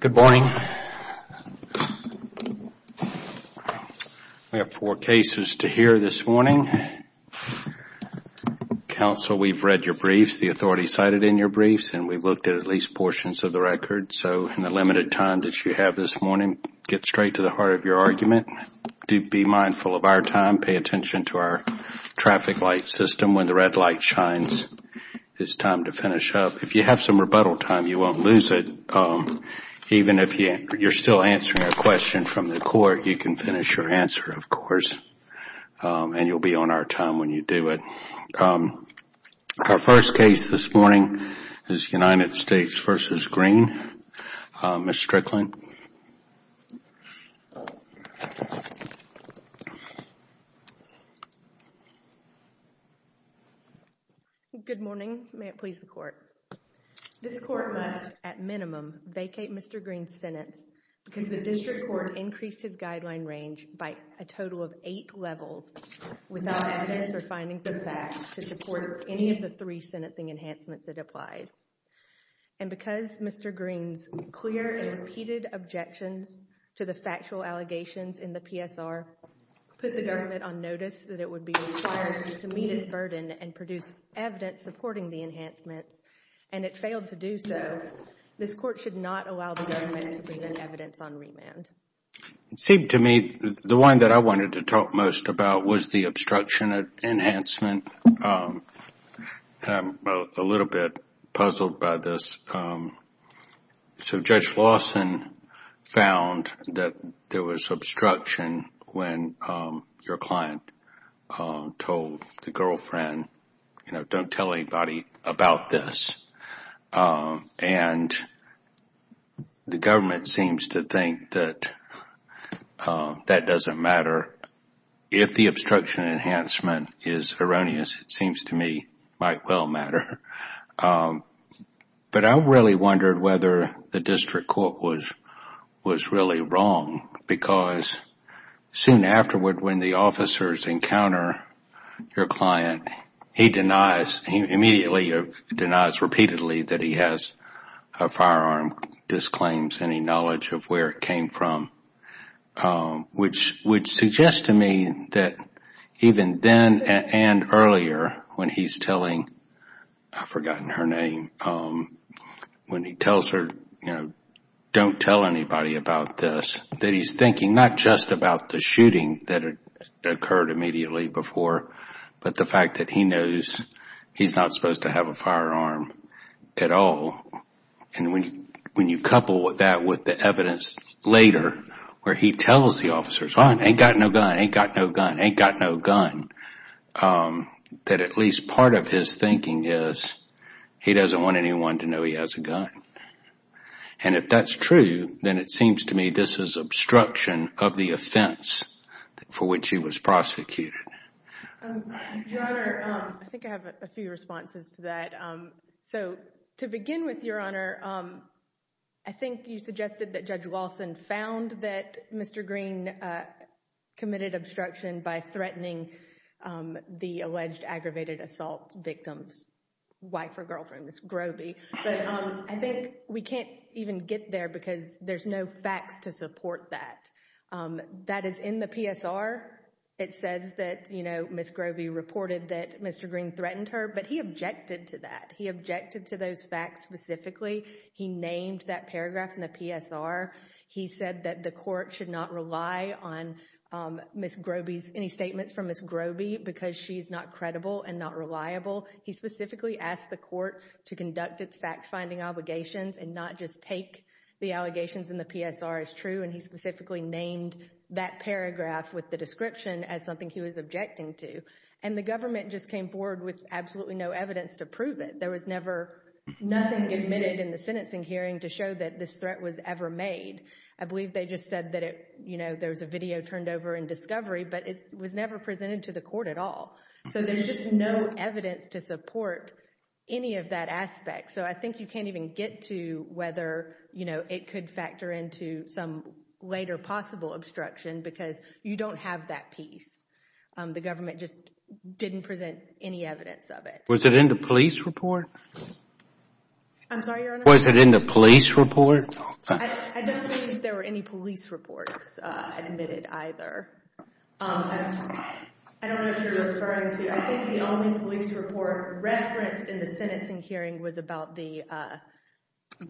Good morning. We have four cases to hear this morning. Council, we've read your briefs, the authorities cited in your briefs, and we've looked at at least portions of the record, so in the limited time that you have this morning, get straight to the heart of your argument. Do be mindful of our time. Pay attention to our traffic light system. When the red light shines, it's time to finish up. If you have some rebuttal time, you won't lose it. Even if you're still answering a question from the court, you can finish your answer, of course, and you'll be on our time when you do it. Our first case this morning is United States v. Green. Ms. Strickland. Good morning. May it please the court. This court must, at minimum, vacate Mr. Green's sentence because the district court increased his guideline range by a total of eight levels without evidence or findings of fact to support any of the three sentencing enhancements that applied. And because Mr. Green's clear and repeated objections to the factual allegations in the PSR put the government on notice that it would be required to meet its burden and produce evidence supporting the enhancements, and it failed to do so, this court should not allow the government to present evidence on remand. It seemed to me the one that I wanted to talk most about was the obstruction enhancement. I'm a little bit puzzled by this. So Judge Lawson found that there was obstruction when your client told the girlfriend, you know, don't tell anybody about this. And the government court seems to think that that doesn't matter. If the obstruction enhancement is erroneous, it seems to me might well matter. But I really wondered whether the district court was really wrong because soon afterward when the officers encounter your client, he denies, he immediately denies repeatedly that he has a firearm, disclaims any knowledge of where it came from, which would suggest to me that even then and earlier when he's telling, I've forgotten her name, when he tells her, you know, don't tell anybody about this, that he's thinking not just about the shooting that occurred immediately before, but the fact that he knows he's not supposed to have a firearm at all. And when you couple that with the evidence later where he tells the officers, oh, ain't got no gun, ain't got no gun, ain't got no gun, that at least part of his thinking is he doesn't want anyone to know he has a gun. And if that's true, then it seems to me this is obstruction of the offense for which he was prosecuted. Your Honor, I think I have a few responses to that. So to begin with, Your Honor, I think you suggested that Judge Lawson found that Mr. Green committed obstruction by threatening the alleged aggravated assault victim's wife or girlfriend, Ms. Groby. But I think we can't even get there because there's no facts to support that. That is in the PSR. It says that, you know, Ms. Groby reported that Mr. Green threatened her, but he objected to that. He objected to those facts specifically. He named that paragraph in the PSR. He said that the court should not rely on Ms. Groby's, any statements from Ms. Groby because she's not credible and not reliable. He specifically asked the court to conduct its fact-finding obligations and not just take the allegations in the PSR as true. And he specifically named that paragraph with the description as something he was objecting to. And the government just came forward with absolutely no evidence to prove it. There was never, nothing admitted in the sentencing hearing to show that this threat was ever made. I believe they just said that it, you know, there was a video turned over in discovery, but it was never presented to the court at all. So there's just no evidence to support any of that aspect. So I think you can't even get to whether, you know, it could factor into some later possible obstruction because you don't have that piece. The government just didn't present any evidence of it. Was it in the police report? I'm sorry, Your Honor? Was it in the police report? I don't believe there were any police reports admitted either. I don't know if you're referring to, I think the only police report referenced in the sentencing hearing was about the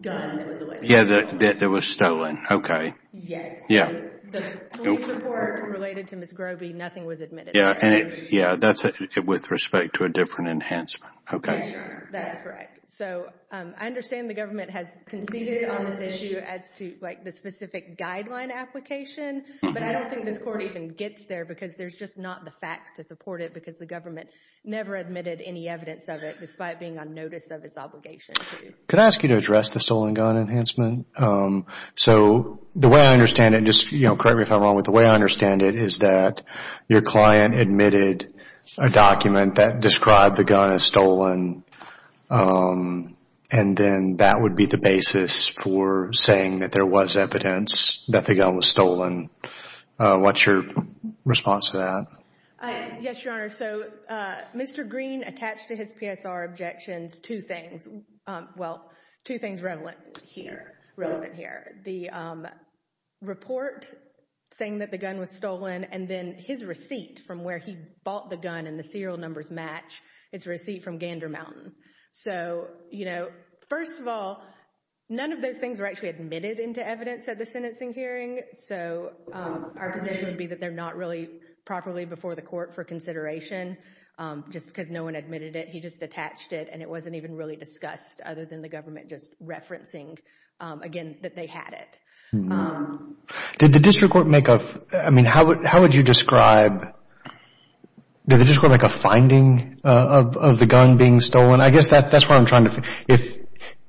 gun that was elected. Yeah, that was stolen. Okay. Yes. Yeah. The police report related to Ms. Groby, nothing was admitted. Yeah, and it, yeah, that's with respect to a different enhancement. Okay. Yes, Your Honor. That's correct. So I understand the government has conceded on this issue as to, like, the specific guideline application, but I don't think this court even gets there because there's just not the facts to support it because the government never admitted any evidence of it despite being on notice of its obligation to. Could I ask you to address the stolen gun enhancement? So the way I understand it, and just, you know, correct me if I'm wrong, but the way I understand it is that your client admitted a document that described the gun as stolen, and then that would be the basis for saying that there was evidence that the gun was stolen. What's your response to that? Yes, Your Honor. So Mr. Green attached to his PSR objections two things, well, two things relevant here, relevant here. The report saying that the gun was stolen and then his receipt from where he bought the gun and the serial numbers match is a receipt from Gander Mountain. So, you know, first of all, none of those things were actually admitted into evidence at the sentencing hearing. So our position would be that they're not really properly before the court for consideration just because no one admitted it. He just attached it and it wasn't even really discussed other than the government just referencing, again, that they had it. Did the district court make a, I mean, how And I guess that's what I'm trying to, if,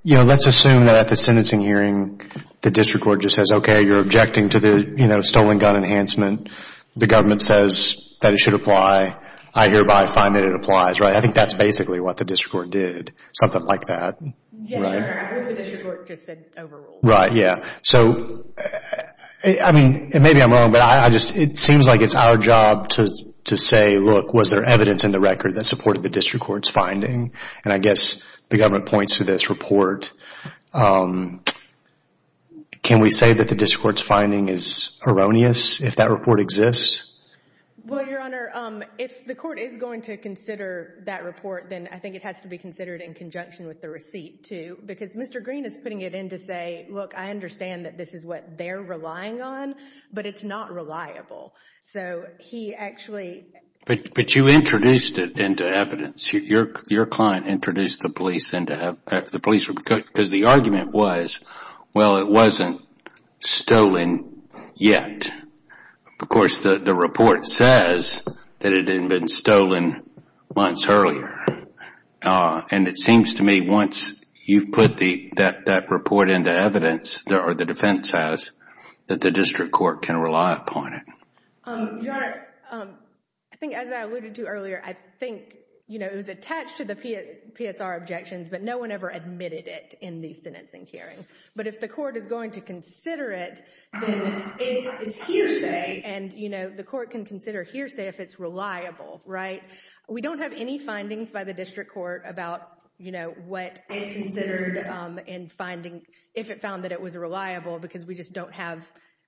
you know, let's assume that at the sentencing hearing the district court just says, okay, you're objecting to the, you know, stolen gun enhancement. The government says that it should apply. I hereby find that it applies, right? I think that's basically what the district court did, something like that. Yes, Your Honor. What the district court just said overruled. Right, yeah. So, I mean, maybe I'm wrong, but I just, it seems like it's our job to say, look, was there evidence in the record that supported the district court's finding? And I guess the government points to this report. Can we say that the district court's finding is erroneous if that report exists? Well, Your Honor, if the court is going to consider that report, then I think it has to be considered in conjunction with the receipt too, because Mr. Green is putting it in to say, look, I understand that this is what they're relying on, but it's not reliable. So, he actually... But you introduced it into evidence. Your client introduced the police into evidence, the police, because the argument was, well, it wasn't stolen yet. Of course, the report says that it had been stolen months earlier. And it seems to me once you've put that report into evidence, or the defense says, that the district court can rely upon it. Your Honor, I think as I alluded to earlier, I think it was attached to the PSR objections, but no one ever admitted it in the sentencing hearing. But if the court is going to consider it, then it's hearsay, and the court can consider hearsay if it's reliable, right? We don't have any findings by the district court about what it considered in finding, if it found that it was reliable, because we just don't have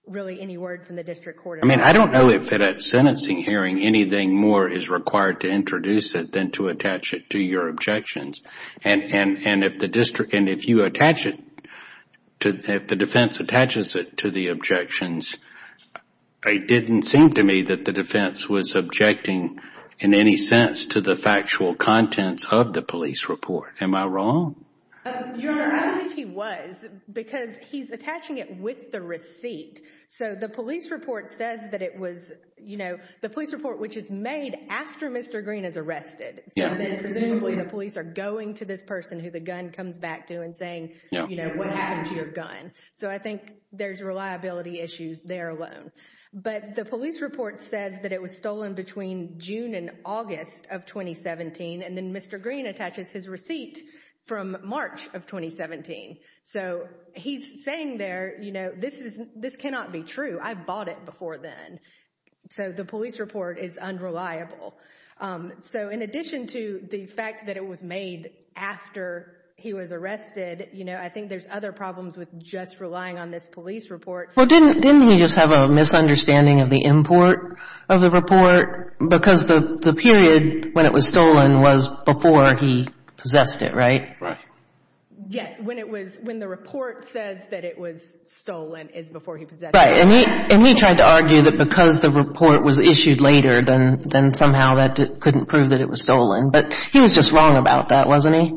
really any word from the district court at all. I mean, I don't know if at a sentencing hearing, anything more is required to introduce it than to attach it to your objections. And if the district, and if you attach it, if the defense attaches it to the objections, it didn't seem to me that the defense was objecting in any sense to the factual contents of the police report. Am I wrong? Your Honor, I don't think he was, because he's attaching it with the receipt. So the police report says that it was, you know, the police report which is made after Mr. Green is arrested. So then presumably the police are going to this person who the gun comes back to and saying, you know, what happened to your gun? So I think there's reliability issues there alone. But the police report says that it was stolen between June and August of 2017. And then Mr. Green attaches his receipt from March of 2017. So he's saying there, you know, this cannot be true. I bought it before then. So the police report is unreliable. So in addition to the fact that it was made after he was arrested, you know, I think there's other problems with just relying on this police report. Well, didn't he just have a misunderstanding of the import of the report? Because the period when it was stolen was before he possessed it, right? Right. Yes. When it was — when the report says that it was stolen, it's before he possessed Right. And he tried to argue that because the report was issued later, then somehow that couldn't prove that it was stolen. But he was just wrong about that, wasn't he?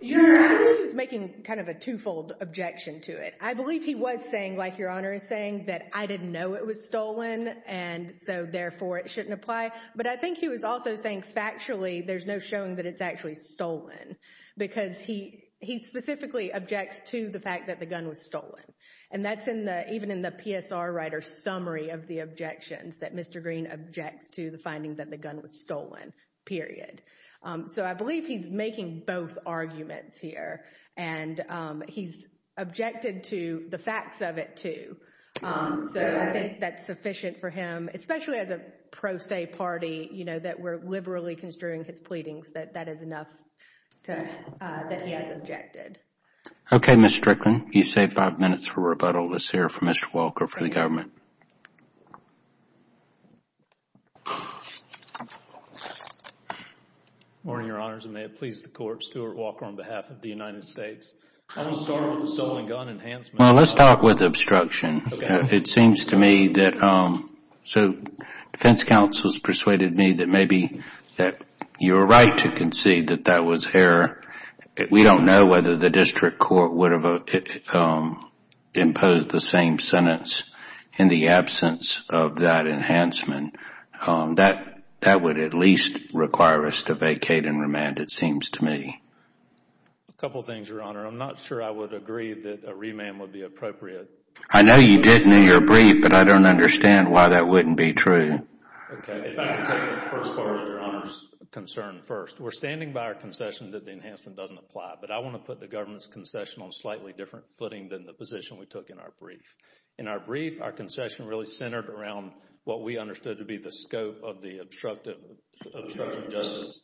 Your Honor, I think he was making kind of a twofold objection to it. I believe he was saying, like Your Honor is saying, that I didn't know it was stolen, and so therefore it shouldn't apply. But I think he was also saying factually there's no showing that it's actually stolen because he specifically objects to the fact that the gun was stolen. And that's in the — even in the PSR writer's summary of the objections that Mr. Green objects to the finding that the gun was stolen, period. So I believe he's both arguments here. And he's objected to the facts of it, too. So I think that's sufficient for him, especially as a pro se party, you know, that we're liberally construing his pleadings, that that is enough to — that he has objected. Okay, Ms. Strickland, you've saved five minutes for rebuttal. Let's hear from Mr. Walker for the government. Good morning, Your Honors, and may it please the Court, Stuart Walker on behalf of the United States. I want to start with the stolen gun enhancement. Well, let's start with obstruction. It seems to me that — so defense counsels persuaded me that maybe that you're right to concede that that was error. We don't know whether the district court would have imposed the same sentence in the absence of that enhancement. That would at least require us to vacate and remand, it seems to me. A couple of things, Your Honor. I'm not sure I would agree that a remand would be appropriate. I know you did in your brief, but I don't understand why that wouldn't be true. Okay, if I could take the first part of Your Honor's concern first. We're standing by our concession that the enhancement doesn't apply, but I want to put the government's concession on a slightly different footing than the position we took in our brief. In our brief, our concession really centered around what we understood to be the scope of the obstruction of justice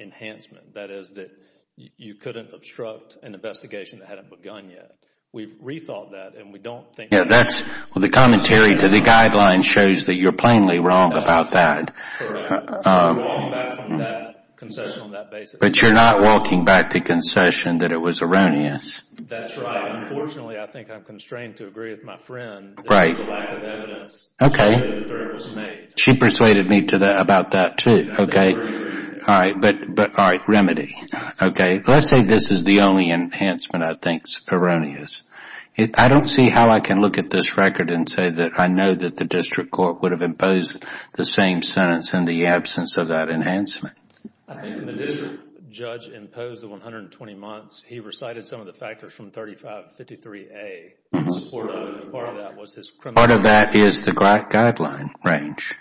enhancement. That is that you couldn't obstruct an investigation that hadn't begun yet. We've rethought that, and we don't think — Yeah, that's — well, the commentary to the guidelines shows that you're plainly wrong about that. I'm walking back from that concession on that basis. But you're not walking back the concession that it was erroneous. That's right. Unfortunately, I think I'm constrained to agree with my friend. Right. There's a lack of evidence that the threat was made. She persuaded me about that, too. Okay. All right, but — all right, remedy. Okay. Let's say this is the only enhancement I think is erroneous. I don't see how I can look at this record and say that I know that the same sentence in the absence of that enhancement. I think when the district judge imposed the 120 months, he recited some of the factors from 3553A. Part of that was his criminal — Part of that is the guideline range.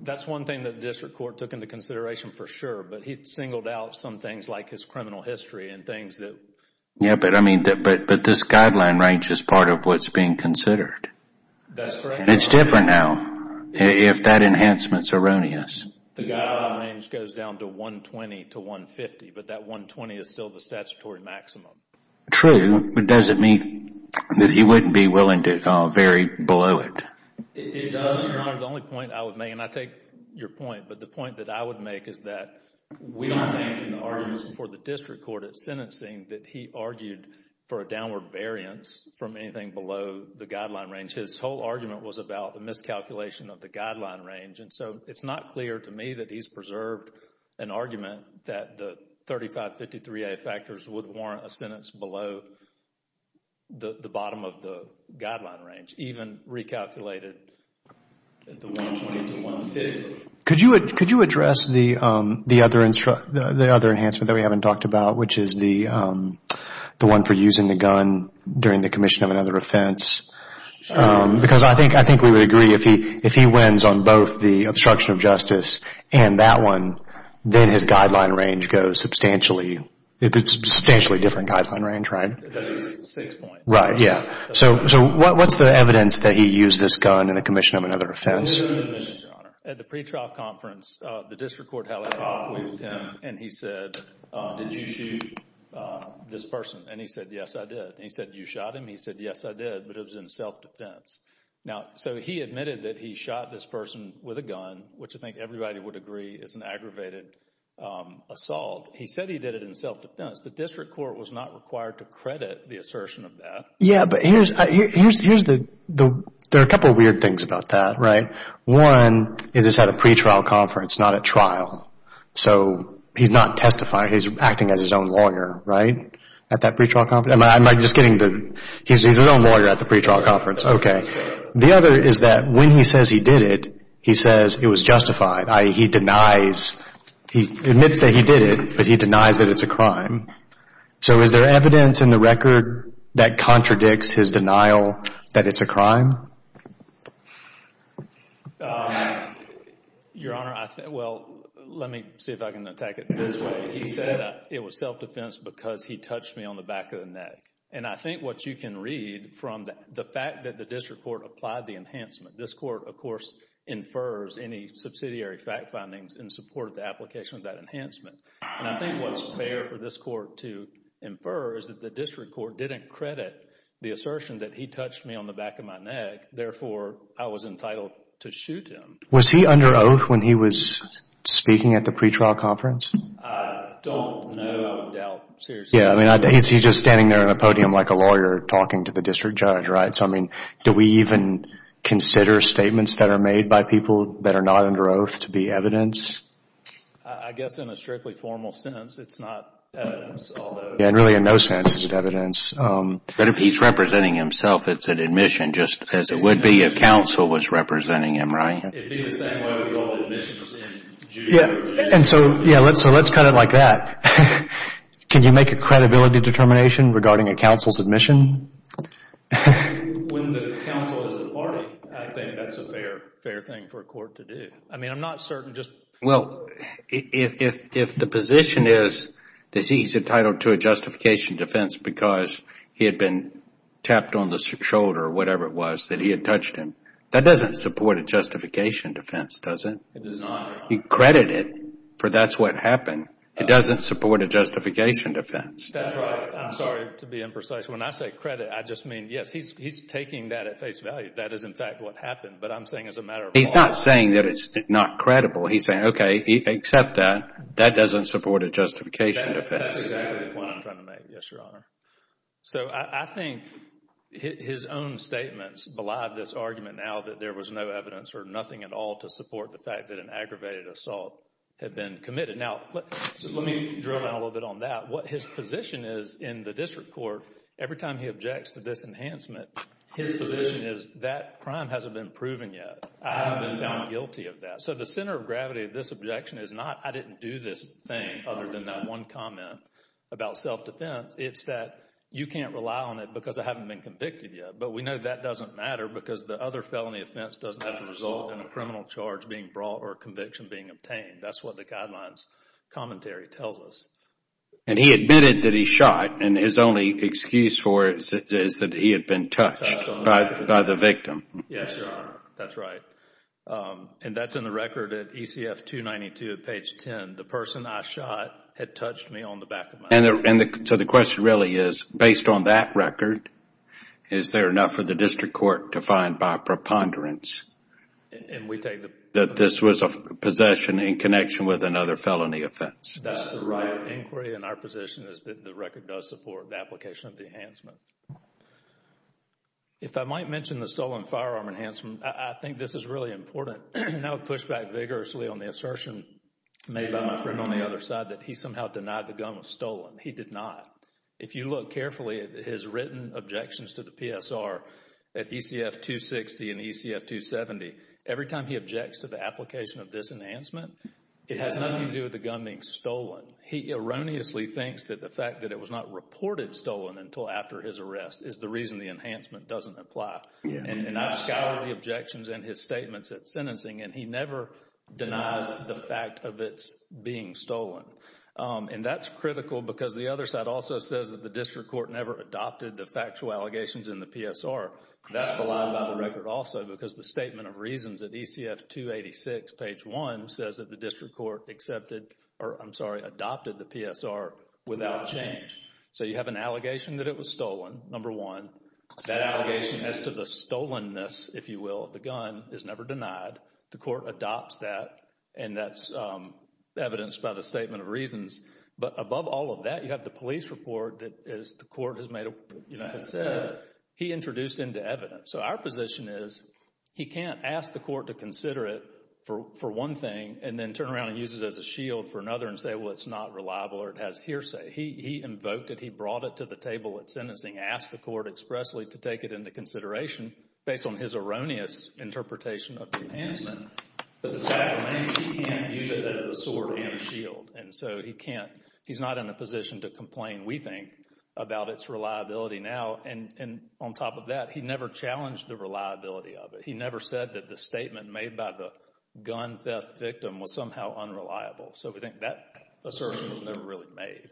That's one thing that the district court took into consideration for sure, but he singled out some things like his criminal history and things that — Yeah, but I mean — but this guideline range is part of what's being considered. That's correct. It's different now if that enhancement's erroneous. The guideline range goes down to 120 to 150, but that 120 is still the statutory maximum. True, but does it mean that he wouldn't be willing to vary below it? It does, Your Honor. The only point I would make, and I take your point, but the point that I would make is that we are making arguments before the district court at sentencing that he argued for a downward variance from anything below the guideline range. His whole argument was about a miscalculation of the guideline range, and so it's not clear to me that he's preserved an argument that the 3553A factors would warrant a sentence below the bottom of the guideline range, even recalculated at the 120 to 150. Could you address the other enhancement that we haven't talked about, which is the one for using the gun during the commission of another offense? Because I think we would agree if he wins on both the obstruction of justice and that one, then his guideline range goes substantially different, right? It goes six points. Right, yeah. So what's the evidence that he used this gun in the commission of another offense? At the pretrial conference, the district court held a talk with him, and he said, did you shoot this person? And he said, yes, I did. And he said, you shot him? He said, yes, I did, but it was in self-defense. Now, so he admitted that he shot this person with a gun, which I think everybody would agree is an aggravated assault. He said he did it in self-defense. The district court was not required to credit the assertion of that. Yeah, but there are a couple of weird things about that, right? One is it's at a pretrial conference, not at trial. So he's not testifying. He's acting as his own lawyer, right, at that pretrial conference. I'm just getting the, he's his own lawyer at the pretrial conference. The other is that when he says he did it, he says it was justified, i.e., he denies, he admits that he did it, but he denies that it's a crime. So is there evidence in the record that contradicts his denial that it's a crime? Your Honor, well, let me see if I can attack it this way. It was self-defense because he touched me on the back of the neck, and I think what you can read from the fact that the district court applied the enhancement. This court, of course, infers any subsidiary fact findings in support of the application of that enhancement, and I think what's fair for this court to infer is that the district court didn't credit the assertion that he touched me on the back of my neck. Therefore, I was entitled to shoot him. Was he under oath when he was speaking at the pretrial conference? Don't know, I would doubt, seriously. Yeah, I mean, he's just standing there on the podium like a lawyer talking to the district judge, right? So, I mean, do we even consider statements that are made by people that are not under oath to be evidence? I guess in a strictly formal sense, it's not evidence, although. Yeah, and really in no sense is it evidence. But if he's representing himself, it's an admission, just as it would be if counsel was representing him, right? It'd be the same way we call admissions in juries. And so, yeah, let's cut it like that. Can you make a credibility determination regarding a counsel's admission? When the counsel is departing, I think that's a fair thing for a court to do. I mean, I'm not certain just... Well, if the position is that he's entitled to a justification defense because he had been tapped on the shoulder or whatever it was that he had touched him, that doesn't support a justification defense, does it? It does not. You credit it, for that's what happened. It doesn't support a justification defense. That's right. I'm sorry to be imprecise. When I say credit, I just mean, yes, he's taking that at face value. That is, in fact, what happened. But I'm saying as a matter of law... He's not saying that it's not credible. He's saying, okay, except that, that doesn't support a justification defense. That's exactly the point I'm trying to make, yes, Your Honor. So I think his own statements belie this argument now that there was no evidence or nothing at all to support the fact that an aggravated assault had been committed. Now, let me drill down a little bit on that. What his position is in the district court, every time he objects to this enhancement, his position is that crime hasn't been proven yet. I haven't been found guilty of that. So the center of gravity of this objection is not, I didn't do this thing other than that one comment about self-defense. It's that you can't rely on it because I haven't been convicted yet. But we know that doesn't matter because the other felony offense doesn't have the criminal charge being brought or conviction being obtained. That's what the guidelines commentary tells us. And he admitted that he shot and his only excuse for it is that he had been touched by the victim. Yes, Your Honor. That's right. And that's in the record at ECF 292 at page 10. The person I shot had touched me on the back of my hand. So the question really is, based on that record, is there enough for the district court to find by preponderance that this was a possession in connection with another felony offense? That's the right inquiry and our position is that the record does support the application of the enhancement. If I might mention the stolen firearm enhancement, I think this is really important. And I would push back vigorously on the assertion made by my friend on the other side that he somehow denied the gun was stolen. He did not. If you look carefully at his written objections to the PSR at ECF 260 and ECF 270, every time he objects to the application of this enhancement, it has nothing to do with the gun being stolen. He erroneously thinks that the fact that it was not reported stolen until after his arrest is the reason the enhancement doesn't apply. And I've scoured the objections in his statements at sentencing and he never denies the fact of it being stolen. And that's critical because the other side also says that the district court never adopted the factual allegations in the PSR. That's the line by the record also because the statement of reasons at ECF 286, page one, says that the district court accepted, or I'm sorry, adopted the PSR without change. So you have an allegation that it was stolen, number one. That allegation as to the stolenness, if you will, of the gun is never denied. The court adopts that and that's evidenced by the statement of reasons. But above all of that, you have the police report that the court has made a, you know, has said he introduced into evidence. So our position is he can't ask the court to consider it for one thing and then turn around and use it as a shield for another and say, well, it's not reliable or it has hearsay. He invoked it. He brought it to the table at sentencing, asked the court expressly to take it into consideration based on his erroneous interpretation of the enhancement. But the fact remains he can't use it as a sword and a shield. And so he can't, he's not in a position to complain, we think, about its reliability now. And on top of that, he never challenged the reliability of it. He never said that the statement made by the gun theft victim was somehow unreliable. So we think that assertion was never really made.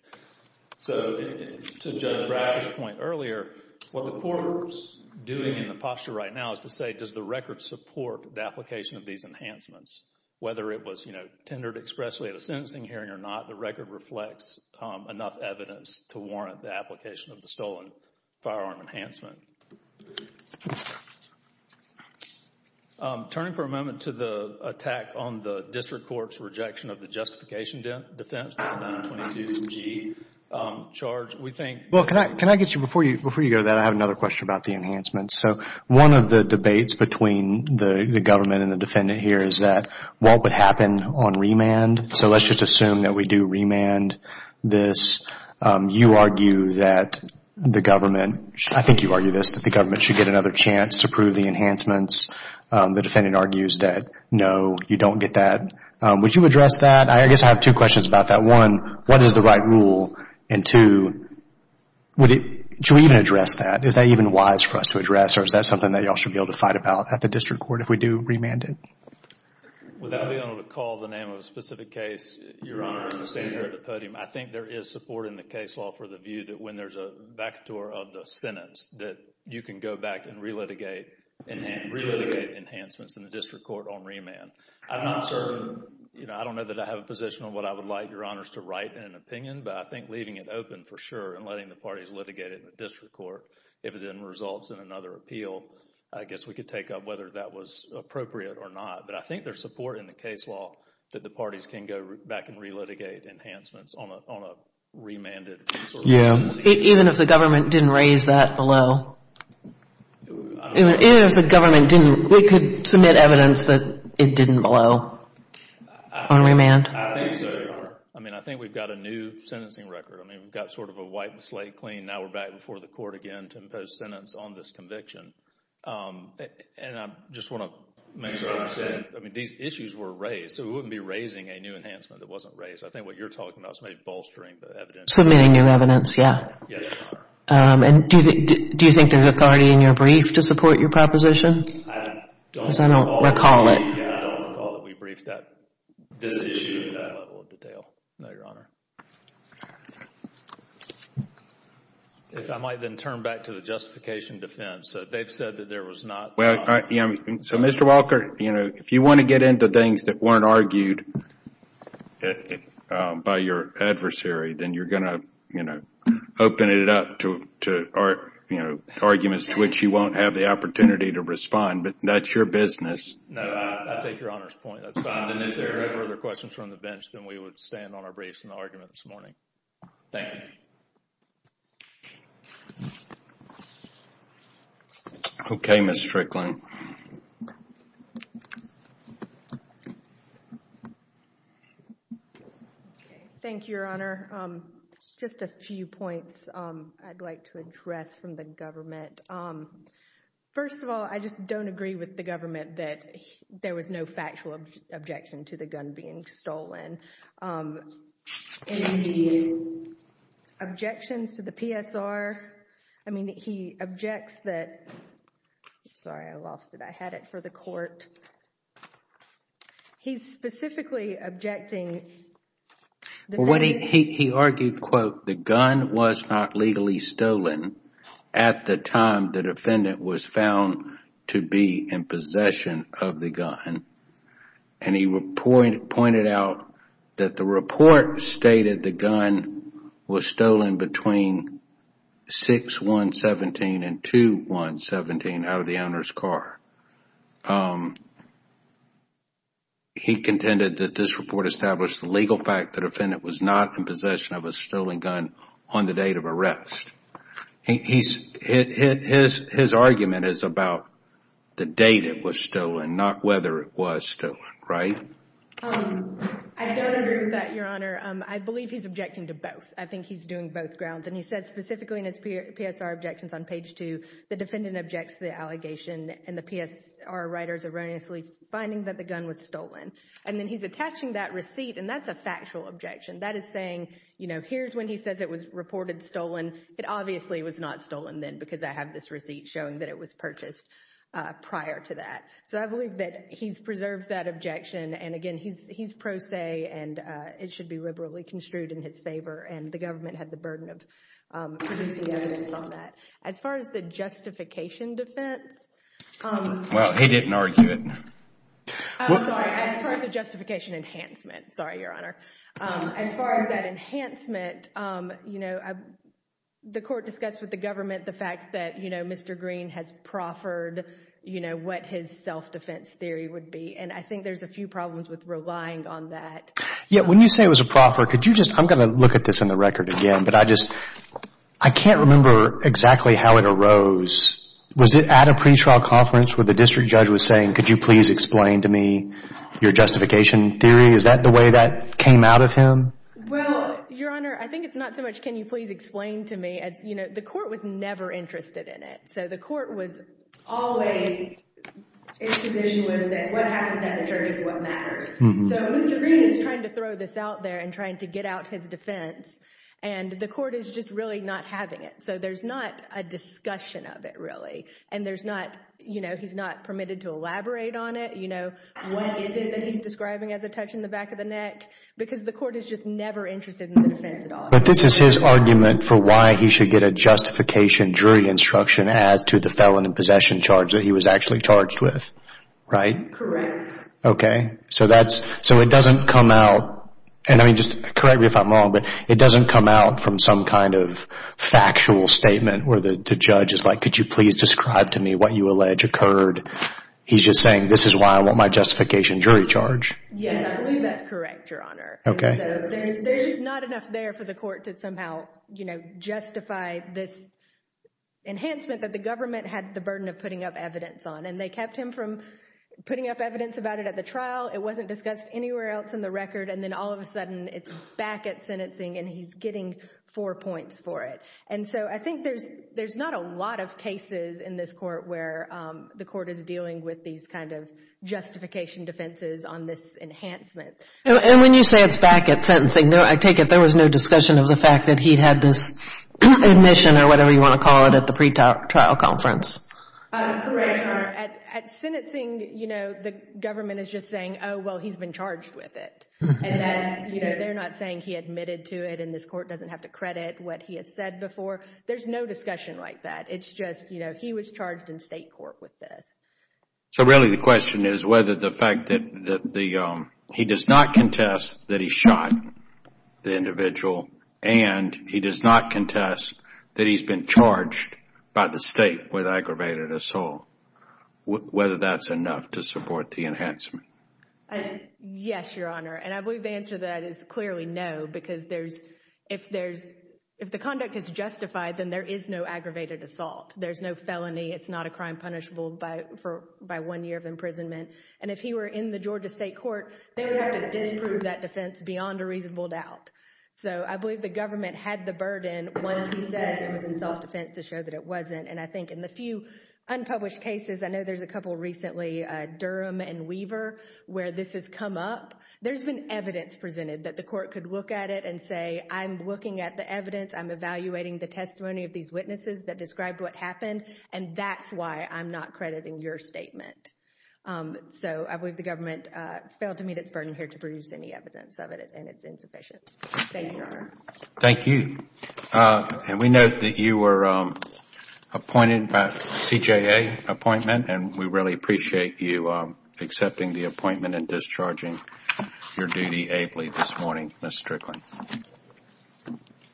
So to Judge Bradford's point earlier, what the court is doing in the posture right now is to say, does the record support the application of these enhancements? Whether it was, you know, tendered expressly at a sentencing hearing or not, the record reflects enough evidence to warrant the application of the stolen firearm enhancement. Turning for a moment to the attack on the district court's rejection of the justification defense to the 922-G charge, we think... Well, can I get you, before you go to that, I have another question about the enhancements. So one of the debates between the government and the defendant here is that what would happen on remand? So let's just assume that we do remand this. You argue that the government, I think you argue this, that the government should get another chance to prove the enhancements. The defendant argues that, no, you don't get that. Would you address that? I guess I have two questions about that. One, what is the right rule? And two, should we even address that? Is that even wise for us to address or is that something that y'all should be able to fight about at the district court if we do remand it? Without being able to call the name of a specific case, Your Honor, I think there is support in the case law for the view that when there's a vacatur of the sentence that you can go back and relitigate enhancements in the district court on remand. I'm not certain, you know, I don't know that I have a position on what I would like Your Honors to write in an opinion, but I think leaving it open for sure and letting the parties litigate it in the district court, if it then results in another appeal, I guess we could take up whether that was appropriate or not. But I think there's support in the case law that the parties can go back and relitigate enhancements on a remanded. Even if the government didn't raise that below? Even if the government didn't, we could submit evidence that it didn't below on remand? I think so, Your Honor. I mean, I think we've got a new sentencing record. I mean, we've got sort of a wipe the slate clean, now we're back before the court again to impose sentence on this conviction. And I just want to make sure I understand, I mean, these issues were raised, so we wouldn't be raising a new enhancement that wasn't raised. I think what you're talking about is maybe bolstering the evidence. Submitting new evidence, yeah. Yes, Your Honor. And do you think there's authority in your brief to support your proposition? I don't recall that we briefed this issue in that level of detail, no, Your Honor. If I might then turn back to the justification defense. They've said that there was not. So, Mr. Walker, if you want to get into things that weren't argued by your adversary, then you're going to, you know, open it up to arguments to which you won't have the opportunity to respond, but that's your business. No, I take Your Honor's point. That's fine. And if there are no further questions from the bench, then we would stand on our briefs in the argument this morning. Thank you. Okay, Ms. Strickland. Thank you, Your Honor. Just a few points I'd like to address from the government. First of all, I just don't agree with the government that there was no factual objection to the gun being stolen. Objections to the PSR. I mean, he objects that, sorry, I lost it. I had it for the court. He's specifically objecting. Well, what he argued, quote, the gun was not legally stolen at the time the defendant was found to be in possession of the gun, and he pointed out that the report stated the gun was stolen between 6-1-17 and 2-1-17 out of the owner's car. He contended that this report established the legal fact the defendant was not in possession of a stolen gun on the date of arrest. His argument is about the date it was stolen, not whether it was stolen, right? I don't agree with that, Your Honor. I believe he's objecting to both. I think he's doing both grounds, and he said specifically in his PSR objections on page two, the defendant objects to the allegation and the PSR writers erroneously finding that the gun was stolen. And then he's attaching that receipt, and that's a factual objection. That is saying, you know, here's when he says it was reported stolen. It obviously was not stolen then because I have this receipt showing that it was purchased prior to that. So I believe that he's preserved that objection, and again, he's pro se, and it should be liberally construed in his favor, and the government had the burden of producing evidence on that. As far as the justification defense? Well, he didn't argue it. I'm sorry, as far as the justification enhancement. Sorry, Your Honor. As far as that enhancement, you know, the court discussed with the government the fact that, you know, Mr. Green has proffered, you know, what his self-defense theory would be, and I think there's a few problems with relying on that. Yeah, when you say it was a proffer, could you just, I'm going to look at this in the Well, Your Honor, I think it's not so much can you please explain to me, as you know, the court was never interested in it. So the court was always, its position was that what happened at the church is what matters. So Mr. Green is trying to throw this out there and trying to get out his defense, and the court is just really not having it. So there's not a discussion of it really, and there's not, you know, he's not permitted to elaborate on it. You know, what is it that he's describing as a touch in the back of the neck? Because the court is just never interested in the defense at all. But this is his argument for why he should get a justification jury instruction as to the felon in possession charge that he was actually charged with, right? Correct. Okay, so that's, so it doesn't come out, and I mean, just correct me if I'm wrong, but it doesn't come out from some kind of factual statement where the judge is like, could you please describe to me what you allege occurred? He's just saying, this is why I want my justification jury charge. Yes, I believe that's correct, Your Honor. Okay. There's not enough there for the court to somehow, you know, justify this enhancement that the government had the burden of putting up evidence on. And they kept him from putting up evidence about it at the trial. It wasn't discussed anywhere else in the record. And then all of a sudden, it's back at sentencing, and he's getting four points for it. And so I think there's not a lot of cases in this court where the court is dealing with these kind of justification defenses on this enhancement. And when you say it's back at sentencing, I take it there was no discussion of the fact that he had this admission or whatever you want to call it at the pretrial conference? Correct, Your Honor. At sentencing, you know, the government is just saying, oh, well, he's been charged with it. You know, they're not saying he admitted to it, and this court doesn't have to credit what he has said before. There's no discussion like that. It's just, you know, he was charged in state court with this. So really the question is whether the fact that he does not contest that he shot the individual, and he does not contest that he's been charged by the state with aggravated assault, whether that's enough to support the enhancement? Yes, Your Honor. And I believe the answer to that is clearly no, because if the conduct is justified, then there is no aggravated assault. There's no felony. It's not a crime punishable by one year of imprisonment. And if he were in the Georgia state court, they would have to disprove that defense beyond a reasonable doubt. So I believe the government had the burden once he says it was in self-defense to show that it wasn't. And I think in the few unpublished cases, I know there's a couple recently, Durham and Weaver, where this has come up. There's been evidence presented that the court could look at it and say, I'm looking at the evidence. I'm evaluating the testimony of these witnesses that described what happened. And that's why I'm not crediting your statement. So I believe the government failed to meet its burden here to produce any evidence of it, and it's insufficient. Thank you, Your Honor. Thank you. And we note that you were appointed by a CJA appointment, and we really appreciate you accepting the appointment and discharging your duty ably this morning, Ms. Strickland.